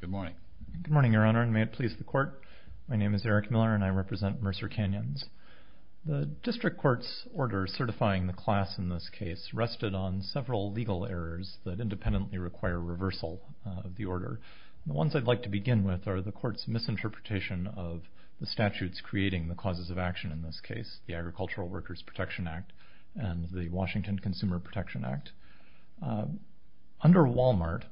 Good morning. Good morning, Your Honor, and may it please the Court. My name is Eric Miller, and I represent Mercer Canyons. The District Court's order certifying the class in this case rested on several legal errors that independently require reversal of the order. The ones I'd like to begin with are the Court's misinterpretation of the statutes creating the causes of action in this case, the Agricultural Workers Protection Act and the Washington Consumer Protection Act. Under Walmart,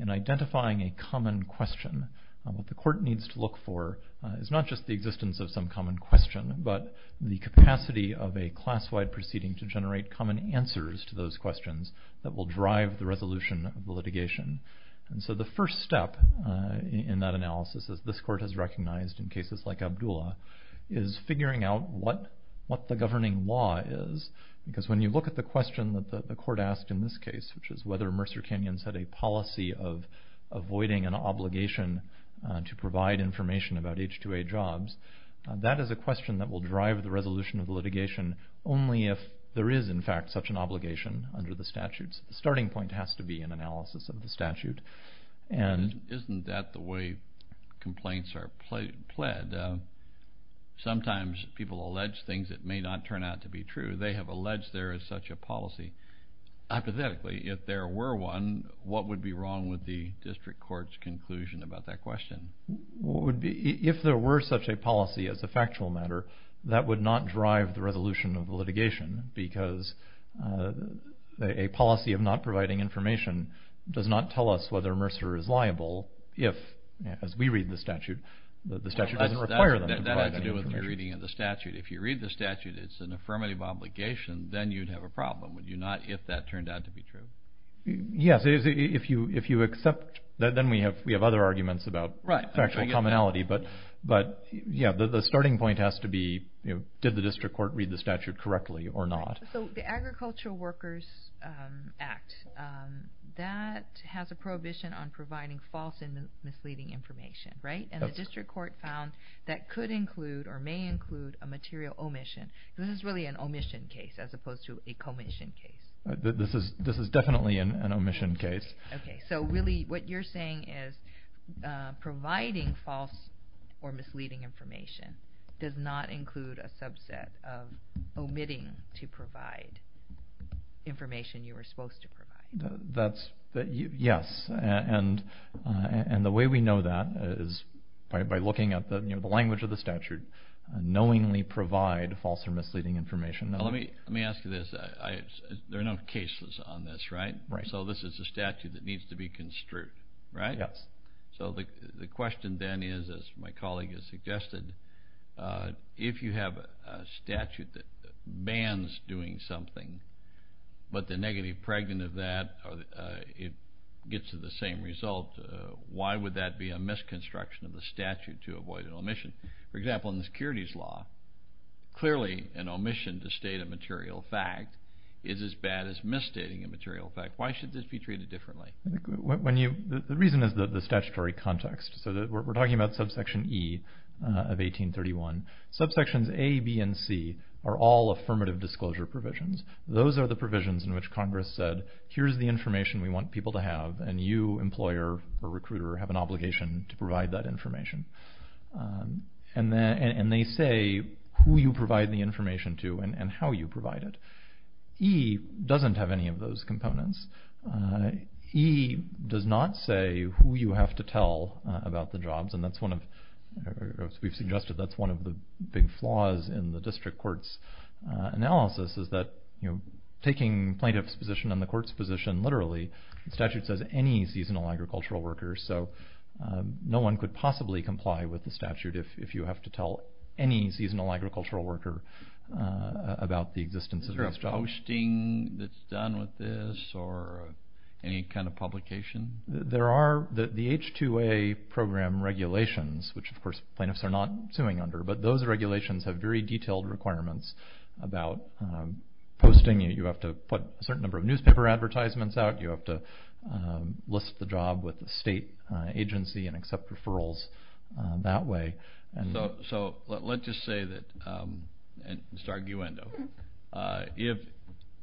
in identifying a common question, what the Court needs to look for is not just the existence of some common question, but the capacity of a class-wide proceeding to generate common answers to those questions that will drive the resolution of the litigation. And so the first step in that analysis, as this Court has recognized in cases like Abdullah, is figuring out what the governing law is, because when you look at the question that the Court asked in this case, which is whether Mercer Canyons had a policy of avoiding an obligation to provide information about H-2A jobs, that is a question that will drive the resolution of the litigation only if there is, in fact, such an obligation under the statutes. The starting point has to be an analysis of the statute. Isn't that the way complaints are pled? Sometimes people allege things that may not turn out to be true. They have alleged there is such a policy. Hypothetically, if there were one, what would be wrong with the district court's conclusion about that question? If there were such a policy as a factual matter, that would not drive the resolution of the litigation, because a policy of not providing information does not tell us whether Mercer is liable if, as we read the statute, the statute doesn't require them to provide any information. That has to do with the reading of the statute. If you read the statute, it's an affirmative obligation, then you'd have a problem, would you not, if that turned out to be true? Yes. If you accept that, then we have other arguments about factual commonality. But, yeah, the starting point has to be, did the district court read the statute correctly or not? The Agricultural Workers Act, that has a prohibition on providing false and misleading information. The district court found that could include or may include a material omission. This is really an omission case as opposed to a commission case. This is definitely an omission case. Really, what you're saying is providing false or misleading information does not include a subset of omitting to provide information you were supposed to provide. Yes. The way we know that is by looking at the language of the statute, knowingly provide false or misleading information. Let me ask you this. There are no cases on this, right? Right. So this is a statute that needs to be construed, right? Yes. So the question then is, as my colleague has suggested, if you have a statute that bans doing something, but the negative pregnant of that gets to the same result, why would that be a misconstruction of the statute to avoid an omission? For example, in the securities law, clearly an omission to state a material fact is as bad as misstating a material fact. Why should this be treated differently? The reason is the statutory context. We're talking about subsection E of 1831. Subsections A, B, and C are all affirmative disclosure provisions. Those are the provisions in which Congress said, here's the information we want people to have, and you, employer or recruiter, have an obligation to provide that information. And they say who you provide the information to and how you provide it. E doesn't have any of those components. E does not say who you have to tell about the jobs, and that's one of the big flaws in the district court's analysis is that taking plaintiff's position and the court's position literally, the statute says any seasonal agricultural worker, so no one could possibly comply with the statute if you have to tell any seasonal agricultural worker about the existence of a job. Is there a posting that's done with this or any kind of publication? There are the H-2A program regulations, which of course plaintiffs are not suing under, but those regulations have very detailed requirements about posting. You have to put a certain number of newspaper advertisements out. You have to list the job with the state agency and accept referrals that way. So let's just say that, and it's arguendo,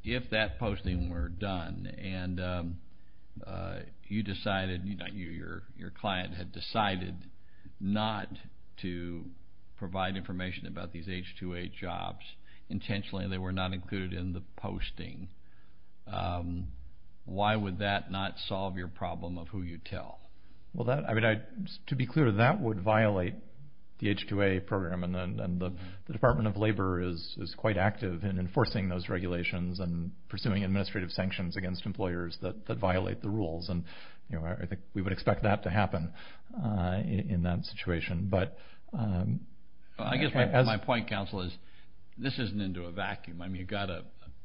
if that posting were done and you decided, your client had decided not to provide information about these H-2A jobs intentionally and they were not included in the posting, why would that not solve your problem of who you tell? To be clear, that would violate the H-2A program, and the Department of Labor is quite active in enforcing those regulations and pursuing administrative sanctions against employers that violate the rules. I think we would expect that to happen in that situation. I guess my point, counsel, is this isn't into a vacuum.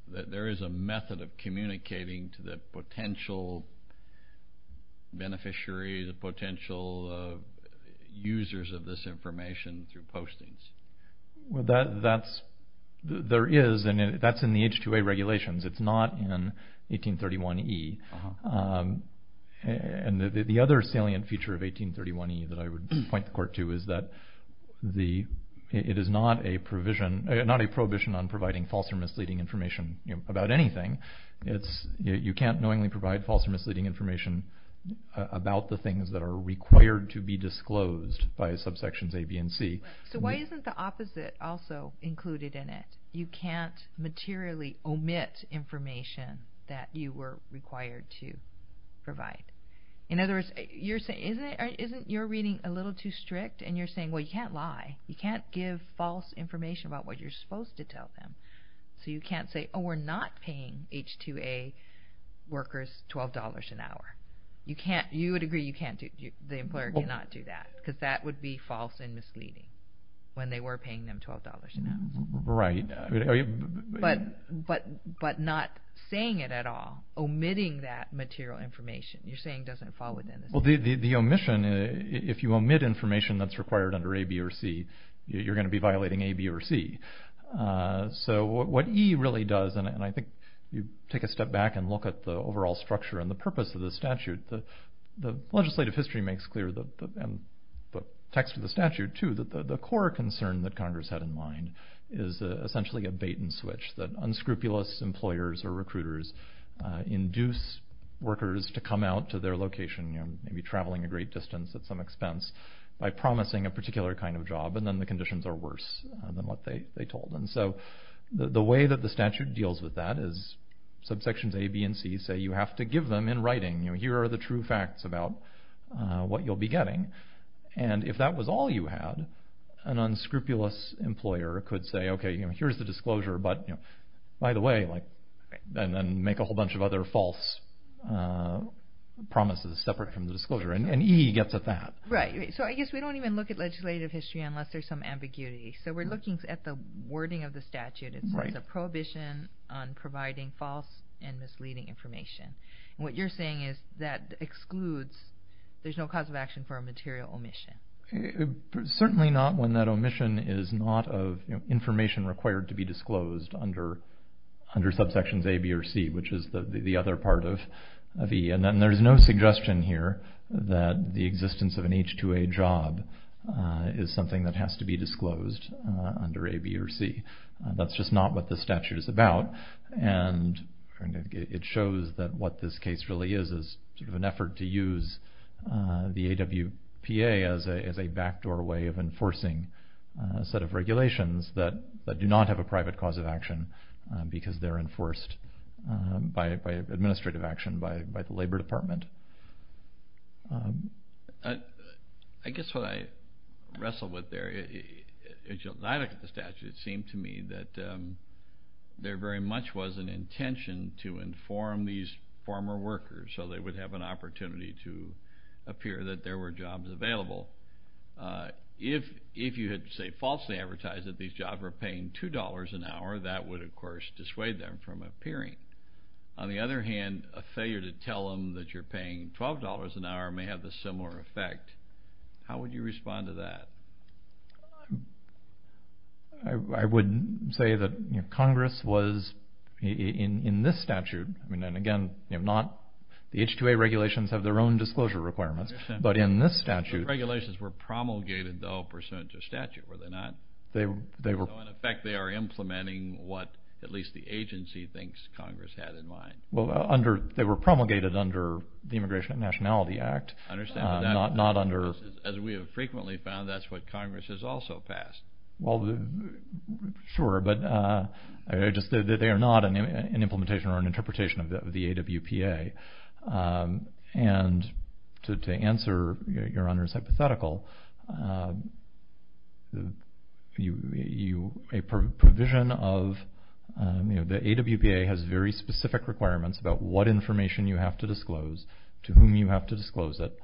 There is a method of communicating to the potential beneficiary, the potential users of this information through postings. That's in the H-2A regulations. It's not in 1831E. The other salient feature of 1831E that I would point the court to is that it is not a prohibition on providing false or misleading information about anything. You can't knowingly provide false or misleading information about the things that are required to be disclosed by subsections A, B, and C. So why isn't the opposite also included in it? You can't materially omit information that you were required to provide. In other words, isn't your reading a little too strict, and you're saying, well, you can't lie. You can't give false information about what you're supposed to tell them. So you can't say, oh, we're not paying H-2A workers $12 an hour. You would agree the employer cannot do that, because that would be false and misleading when they were paying them $12 an hour. Right. But not saying it at all, omitting that material information. You're saying it doesn't fall within the statute. The omission, if you omit information that's required under A, B, or C, you're going to be violating A, B, or C. So what E really does, and I think you take a step back and look at the overall structure and the purpose of the statute, the legislative history makes clear, and the text of the statute too, that the core concern that Congress had in mind is essentially a bait and switch, that unscrupulous employers or recruiters induce workers to come out to their location, maybe traveling a great distance at some expense, by promising a particular kind of job, and then the conditions are worse than what they told them. So the way that the statute deals with that is subsections A, B, and C say, you have to give them in writing. Here are the true facts about what you'll be getting. And if that was all you had, an unscrupulous employer could say, okay, here's the disclosure, but by the way, and then make a whole bunch of other false promises separate from the disclosure. And E gets at that. Right. So I guess we don't even look at legislative history unless there's some ambiguity. So we're looking at the wording of the statute. It says a prohibition on providing false and misleading information. What you're saying is that excludes, there's no cause of action for a material omission. Certainly not when that omission is not of information required to be disclosed under subsections A, B, or C, which is the other part of E. And there's no suggestion here that the existence of an H-2A job is something that has to be disclosed under A, B, or C. That's just not what the statute is about. And it shows that what this case really is is sort of an effort to use the AWPA as a backdoor way of enforcing a set of regulations that do not have a private cause of action because they're enforced by administrative action by the Labor Department. I guess what I wrestle with there is, when I look at the statute, it seemed to me that there very much was an intention to inform these former workers so they would have an opportunity to appear that there were jobs available. If you had, say, falsely advertised that these jobs were paying $2 an hour, that would, of course, dissuade them from appearing. On the other hand, a failure to tell them that you're paying $12 an hour may have a similar effect. How would you respond to that? I would say that Congress was, in this statute, and again, the H-2A regulations have their own disclosure requirements, but in this statute... The regulations were promulgated, though, pursuant to statute, were they not? So, in effect, they are implementing what at least the agency thinks Congress had in mind. Well, they were promulgated under the Immigration and Nationality Act. As we have frequently found, that's what Congress has also passed. Well, sure, but they are not an implementation or an interpretation of the AWPA. And to answer Your Honor's hypothetical, a provision of the AWPA has very specific requirements about what information you have to disclose, to whom you have to disclose it.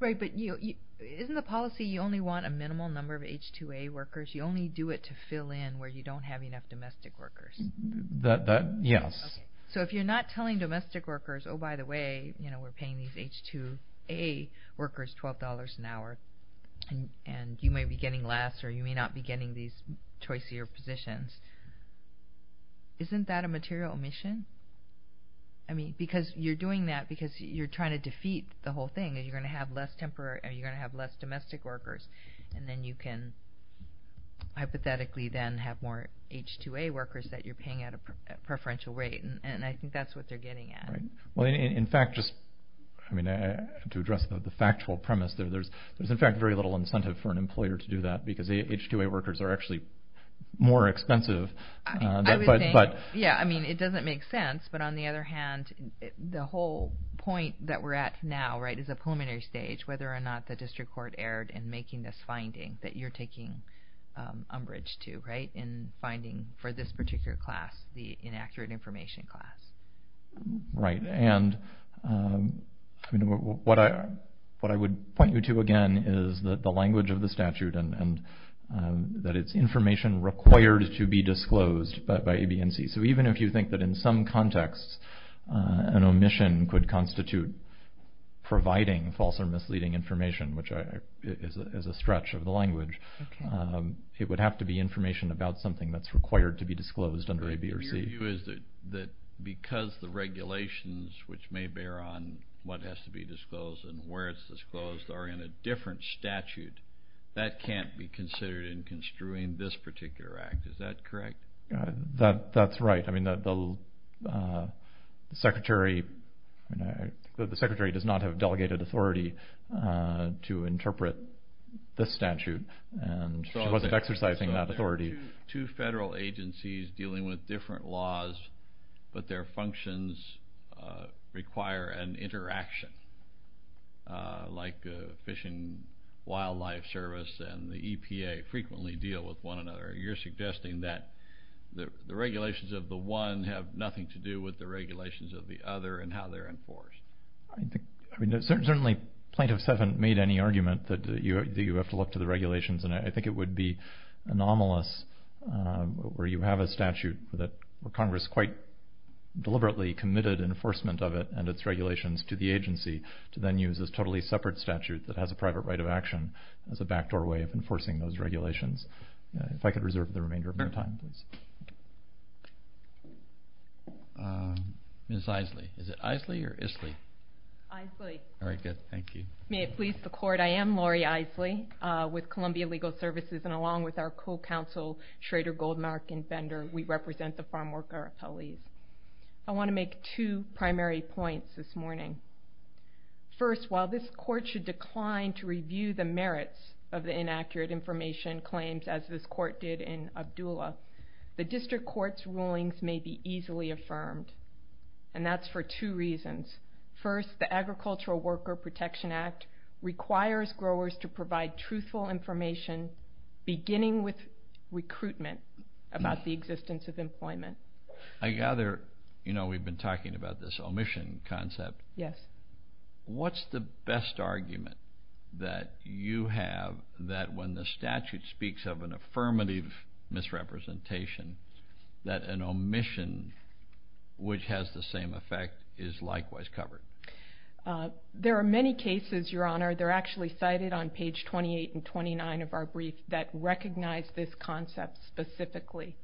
Right, but isn't the policy you only want a minimal number of H-2A workers? You only do it to fill in where you don't have enough domestic workers. Yes. So if you're not telling domestic workers, oh, by the way, we're paying these H-2A workers $12 an hour, and you may be getting less or you may not be getting these choicier positions, isn't that a material omission? I mean, because you're doing that because you're trying to defeat the whole thing. You're going to have less domestic workers, and then you can hypothetically then have more H-2A workers that you're paying at a preferential rate. And I think that's what they're getting at. Well, in fact, just to address the factual premise, there's in fact very little incentive for an employer to do that because the H-2A workers are actually more expensive. I would think, yeah, I mean, it doesn't make sense, but on the other hand, the whole point that we're at now, right, is a preliminary stage, whether or not the district court erred in making this finding that you're taking umbrage to, right, in finding for this particular class, the inaccurate information class. Right, and what I would point you to, again, is that the language of the statute and that it's information required to be disclosed by ABNC. So even if you think that in some contexts an omission could constitute providing false or misleading information, which is a stretch of the language, it would have to be information about something that's required to be disclosed under ABRC. My view is that because the regulations, which may bear on what has to be disclosed and where it's disclosed are in a different statute, that can't be considered in construing this particular act. Is that correct? That's right. I mean, the secretary does not have delegated authority to interpret this statute, and she wasn't exercising that authority. So there are two federal agencies dealing with different laws, but their functions require an interaction, like the Fish and Wildlife Service and the EPA frequently deal with one another. You're suggesting that the regulations of the one have nothing to do with the regulations of the other and how they're enforced. I mean, certainly Plaintiff 7 made any argument that you have to look to the regulations, and I think it would be anomalous where you have a statute where Congress quite deliberately committed enforcement of it and its regulations to the agency to then use this totally separate statute that has a private right of action as a backdoor way of enforcing those regulations. If I could reserve the remainder of my time, please. Ms. Isley. Is it Isley or Isley? Isley. All right, good. Thank you. May it please the Court, I am Lori Isley with Columbia Legal Services, and along with our co-counsel Schrader, Goldmark, and Bender, we represent the farmworker appellees. I want to make two primary points this morning. First, while this Court should decline to review the merits of the inaccurate information claims, as this Court did in Abdullah, the district court's rulings may be easily affirmed, and that's for two reasons. First, the Agricultural Worker Protection Act requires growers to provide truthful information beginning with recruitment about the existence of employment. I gather we've been talking about this omission concept. Yes. What's the best argument that you have that when the statute speaks of an affirmative misrepresentation, that an omission which has the same effect is likewise covered? There are many cases, Your Honor. They're actually cited on page 28 and 29 of our brief that recognize this concept specifically.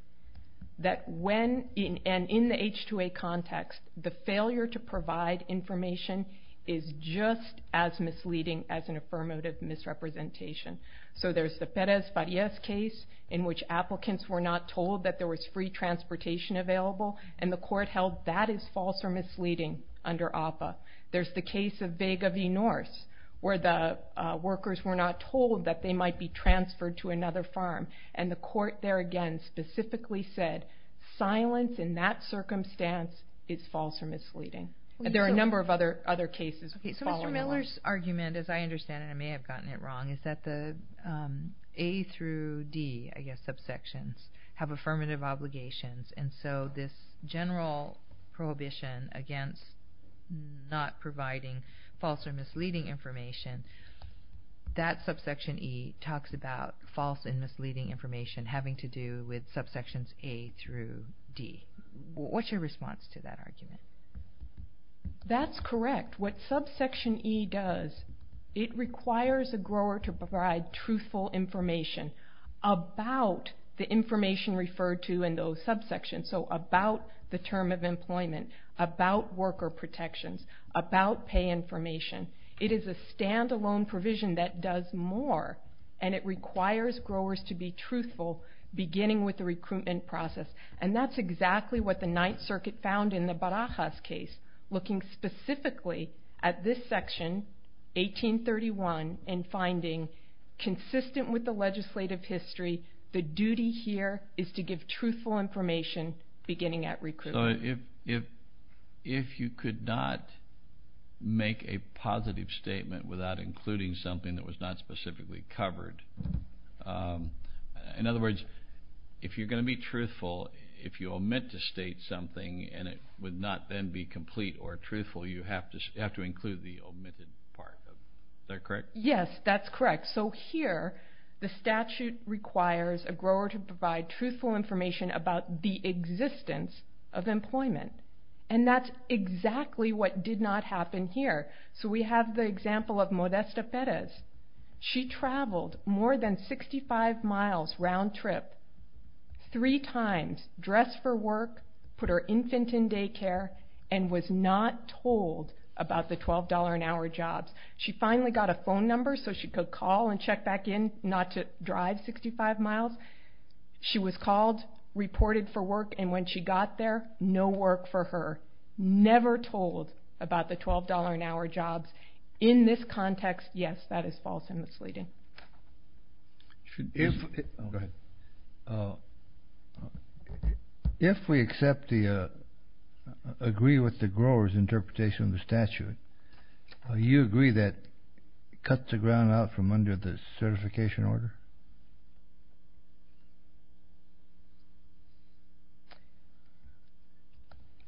That when, and in the H-2A context, the failure to provide information is just as misleading as an affirmative misrepresentation. So there's the Perez-Farias case, in which applicants were not told that there was free transportation available, and the Court held that is false or misleading under APA. There's the case of Vega v. Norse, where the workers were not told that they might be transferred to another farm, and the Court there, again, specifically said, silence in that circumstance is false or misleading. There are a number of other cases following the line. Okay, so Mr. Miller's argument, as I understand it, and I may have gotten it wrong, is that the A through D, I guess, subsections, have affirmative obligations, and so this general prohibition against not providing false or misleading information, that subsection E talks about false and misleading information having to do with subsections A through D. What's your response to that argument? That's correct. What subsection E does, it requires a grower to provide truthful information about the information referred to in those subsections, so about the term of employment, about worker protections, about pay information. It is a stand-alone provision that does more, and it requires growers to be truthful, beginning with the recruitment process, and that's exactly what the Ninth Circuit found in the Barajas case, looking specifically at this section, 1831, and finding consistent with the legislative history, the duty here is to give truthful information beginning at recruitment. So if you could not make a positive statement without including something that was not specifically covered, in other words, if you're going to be truthful, if you omit to state something and it would not then be complete or truthful, you have to include the omitted part of it. Is that correct? Yes, that's correct. So here the statute requires a grower to provide truthful information about the existence of employment, and that's exactly what did not happen here. So we have the example of Modesta Perez. She traveled more than 65 miles round-trip three times, dressed for work, put her infant in daycare, and was not told about the $12-an-hour jobs. She finally got a phone number so she could call and check back in not to drive 65 miles. She was called, reported for work, and when she got there, no work for her. Never told about the $12-an-hour jobs. In this context, yes, that is false and misleading. Go ahead. If we agree with the grower's interpretation of the statute, do you agree that it cuts the ground out from under the certification order?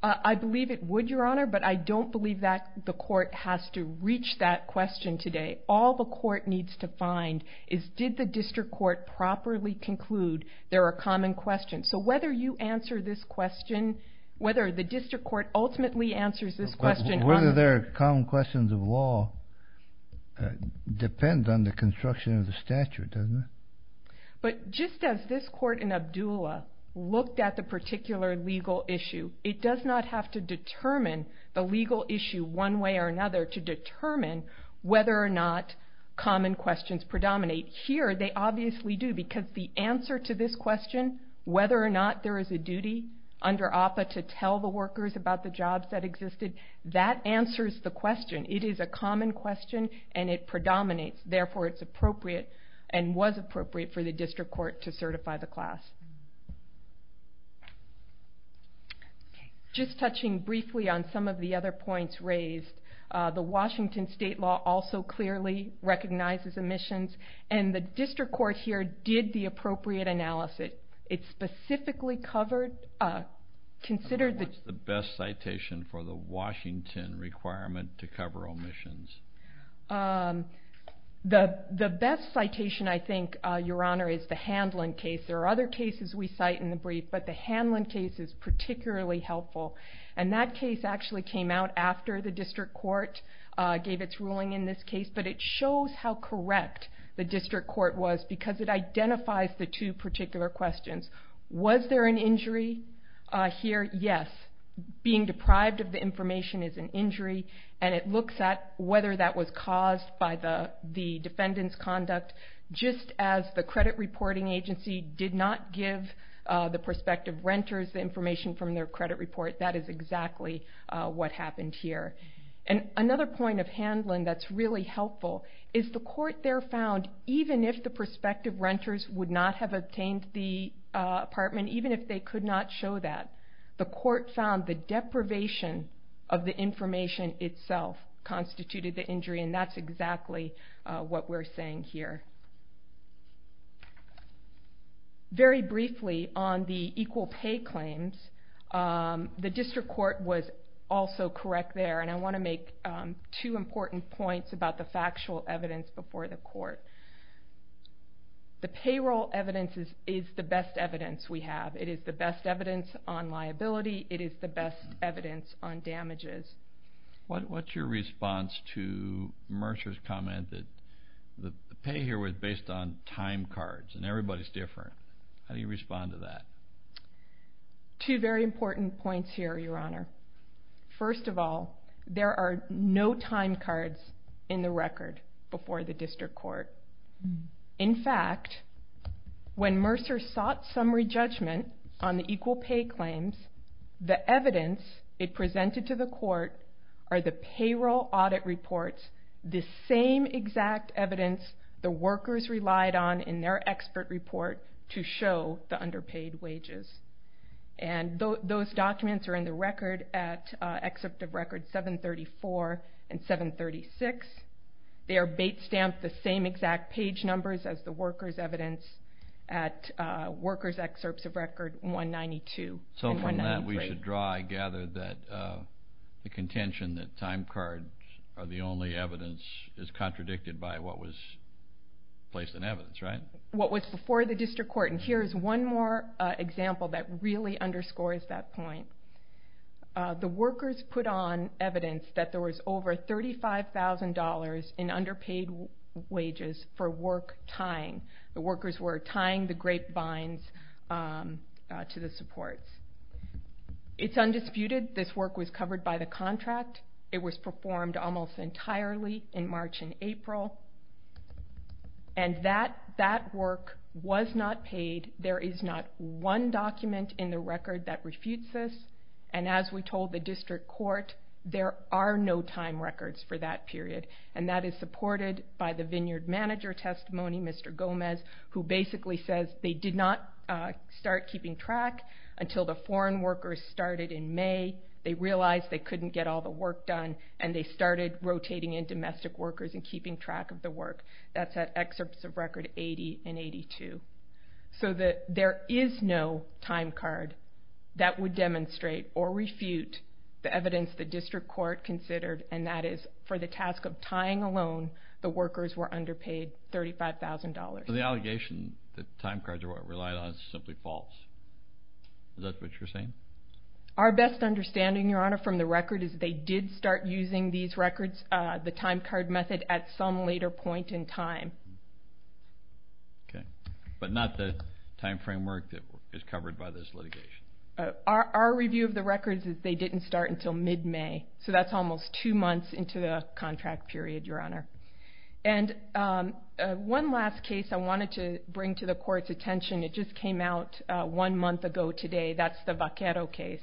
I believe it would, Your Honor, but I don't believe that the court has to reach that question today. All the court needs to find is did the district court properly conclude there are common questions. So whether you answer this question, whether the district court ultimately answers this question. Whether there are common questions of law depends on the construction of the statute, doesn't it? But just as this court in Abdullah looked at the particular legal issue, it does not have to determine the legal issue one way or another to determine whether or not common questions predominate. Here they obviously do because the answer to this question, whether or not there is a duty under APA to tell the workers about the jobs that existed, that answers the question. It is a common question, and it predominates. Therefore, it's appropriate and was appropriate for the district court to certify the class. Just touching briefly on some of the other points raised, the Washington state law also clearly recognizes omissions, and the district court here did the appropriate analysis. What's the best citation for the Washington requirement to cover omissions? The best citation, I think, Your Honor, is the Hanlon case. There are other cases we cite in the brief, but the Hanlon case is particularly helpful, and that case actually came out after the district court gave its ruling in this case, but it shows how correct the district court was because it identifies the two particular questions. Was there an injury here? Yes. Being deprived of the information is an injury, and it looks at whether that was caused by the defendant's conduct. Just as the credit reporting agency did not give the prospective renters the information from their credit report, that is exactly what happened here. Another point of Hanlon that's really helpful is the court there found, even if the prospective renters would not have obtained the apartment, even if they could not show that, the court found the deprivation of the information itself constituted the injury, and that's exactly what we're saying here. Very briefly on the equal pay claims, the district court was also correct there, and I want to make two important points about the factual evidence before the court. The payroll evidence is the best evidence we have. It is the best evidence on liability. It is the best evidence on damages. What's your response to Mercer's comment that the pay here was based on time cards and everybody's different? How do you respond to that? Two very important points here, Your Honor. First of all, there are no time cards in the record before the district court. In fact, when Mercer sought summary judgment on the equal pay claims, the evidence it presented to the court are the payroll audit reports, the same exact evidence the workers relied on in their expert report to show the underpaid wages. And those documents are in the record at excerpt of record 734 and 736. They are bait-stamped the same exact page numbers as the workers' evidence at workers' excerpts of record 192 and 193. So from that we should draw, I gather, that the contention that time cards are the only evidence is contradicted by what was placed in evidence, right? What was before the district court. Here's one more example that really underscores that point. The workers put on evidence that there was over $35,000 in underpaid wages for work tying. The workers were tying the grapevines to the supports. It's undisputed this work was covered by the contract. It was performed almost entirely in March and April. And that work was not paid. There is not one document in the record that refutes this. And as we told the district court, there are no time records for that period. And that is supported by the vineyard manager testimony, Mr. Gomez, who basically says they did not start keeping track until the foreign workers started in May. They realized they couldn't get all the work done and they started rotating in domestic workers and keeping track of the work. That's at excerpts of record 80 and 82. So there is no time card that would demonstrate or refute the evidence the district court considered, and that is for the task of tying a loan, the workers were underpaid $35,000. So the allegation that time cards are what it relied on is simply false. Is that what you're saying? Our best understanding, Your Honor, from the record is they did start using these records, the time card method, at some later point in time. Okay. But not the time framework that is covered by this litigation? Our review of the records is they didn't start until mid-May. So that's almost two months into the contract period, Your Honor. And one last case I wanted to bring to the court's attention. It just came out one month ago today. That's the Vaquero case.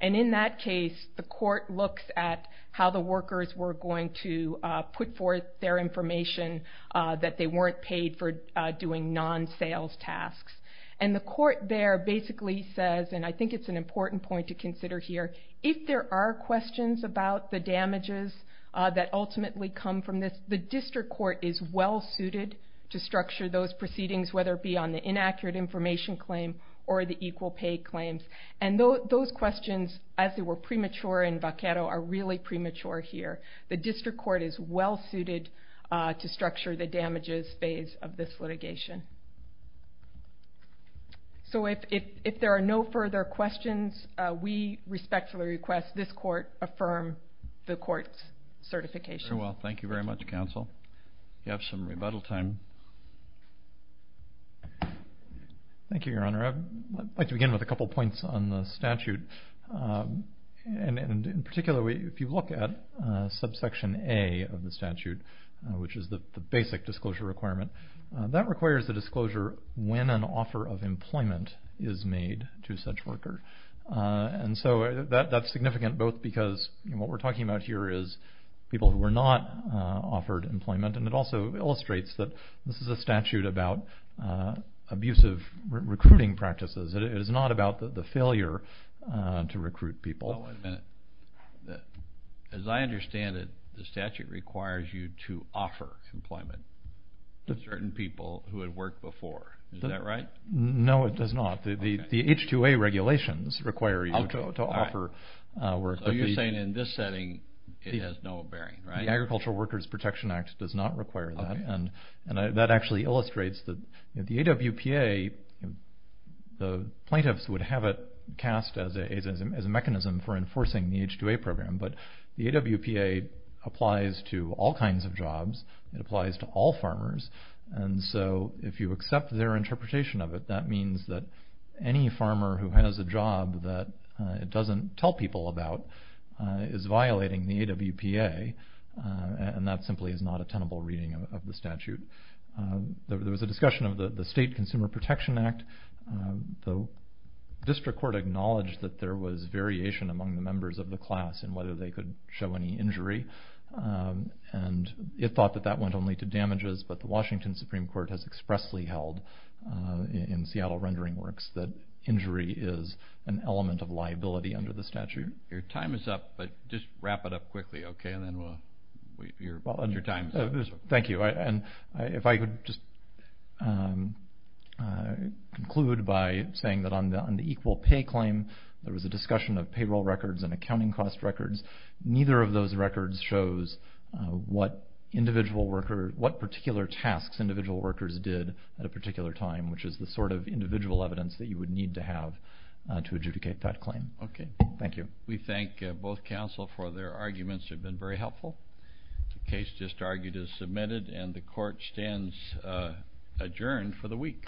And in that case, the court looks at how the workers were going to put forth their information that they weren't paid for doing non-sales tasks. And the court there basically says, and I think it's an important point to consider here, if there are questions about the damages that ultimately come from this, the district court is well-suited to structure those proceedings, whether it be on the inaccurate information claim or the equal pay claims. And those questions, as they were premature in Vaquero, are really premature here. The district court is well-suited to structure the damages phase of this litigation. So if there are no further questions, we respectfully request this court affirm the court's certification. Very well. Thank you very much, counsel. You have some rebuttal time. Thank you, Your Honor. I'd like to begin with a couple points on the statute. And in particular, if you look at subsection A of the statute, which is the basic disclosure requirement, that requires the disclosure when an offer of employment is made to such worker. And so that's significant, both because what we're talking about here is people who were not offered employment, and it also illustrates that this is a statute about abusive recruiting practices. It is not about the failure to recruit people. Oh, one minute. As I understand it, the statute requires you to offer employment to certain people who had worked before. Is that right? No, it does not. The H-2A regulations require you to offer work. So you're saying in this setting it has no bearing, right? The Agricultural Workers Protection Act does not require that. And that actually illustrates that the AWPA, the plaintiffs would have it cast as a mechanism for enforcing the H-2A program, but the AWPA applies to all kinds of jobs. It applies to all farmers. And so if you accept their interpretation of it, that means that any farmer who has a job that it doesn't tell people about is violating the AWPA, and that simply is not a tenable reading of the statute. There was a discussion of the State Consumer Protection Act. The district court acknowledged that there was variation among the members of the class in whether they could show any injury, and it thought that that went only to damages, but the Washington Supreme Court has expressly held, in Seattle Rendering Works, that injury is an element of liability under the statute. Your time is up, but just wrap it up quickly, okay? And then we'll wait for your time. Thank you. And if I could just conclude by saying that on the equal pay claim, there was a discussion of payroll records and accounting cost records. Neither of those records shows what particular tasks individual workers did at a particular time, which is the sort of individual evidence that you would need to have to adjudicate that claim. Okay, thank you. We thank both counsel for their arguments. They've been very helpful. The case just argued is submitted, and the court stands adjourned for the week.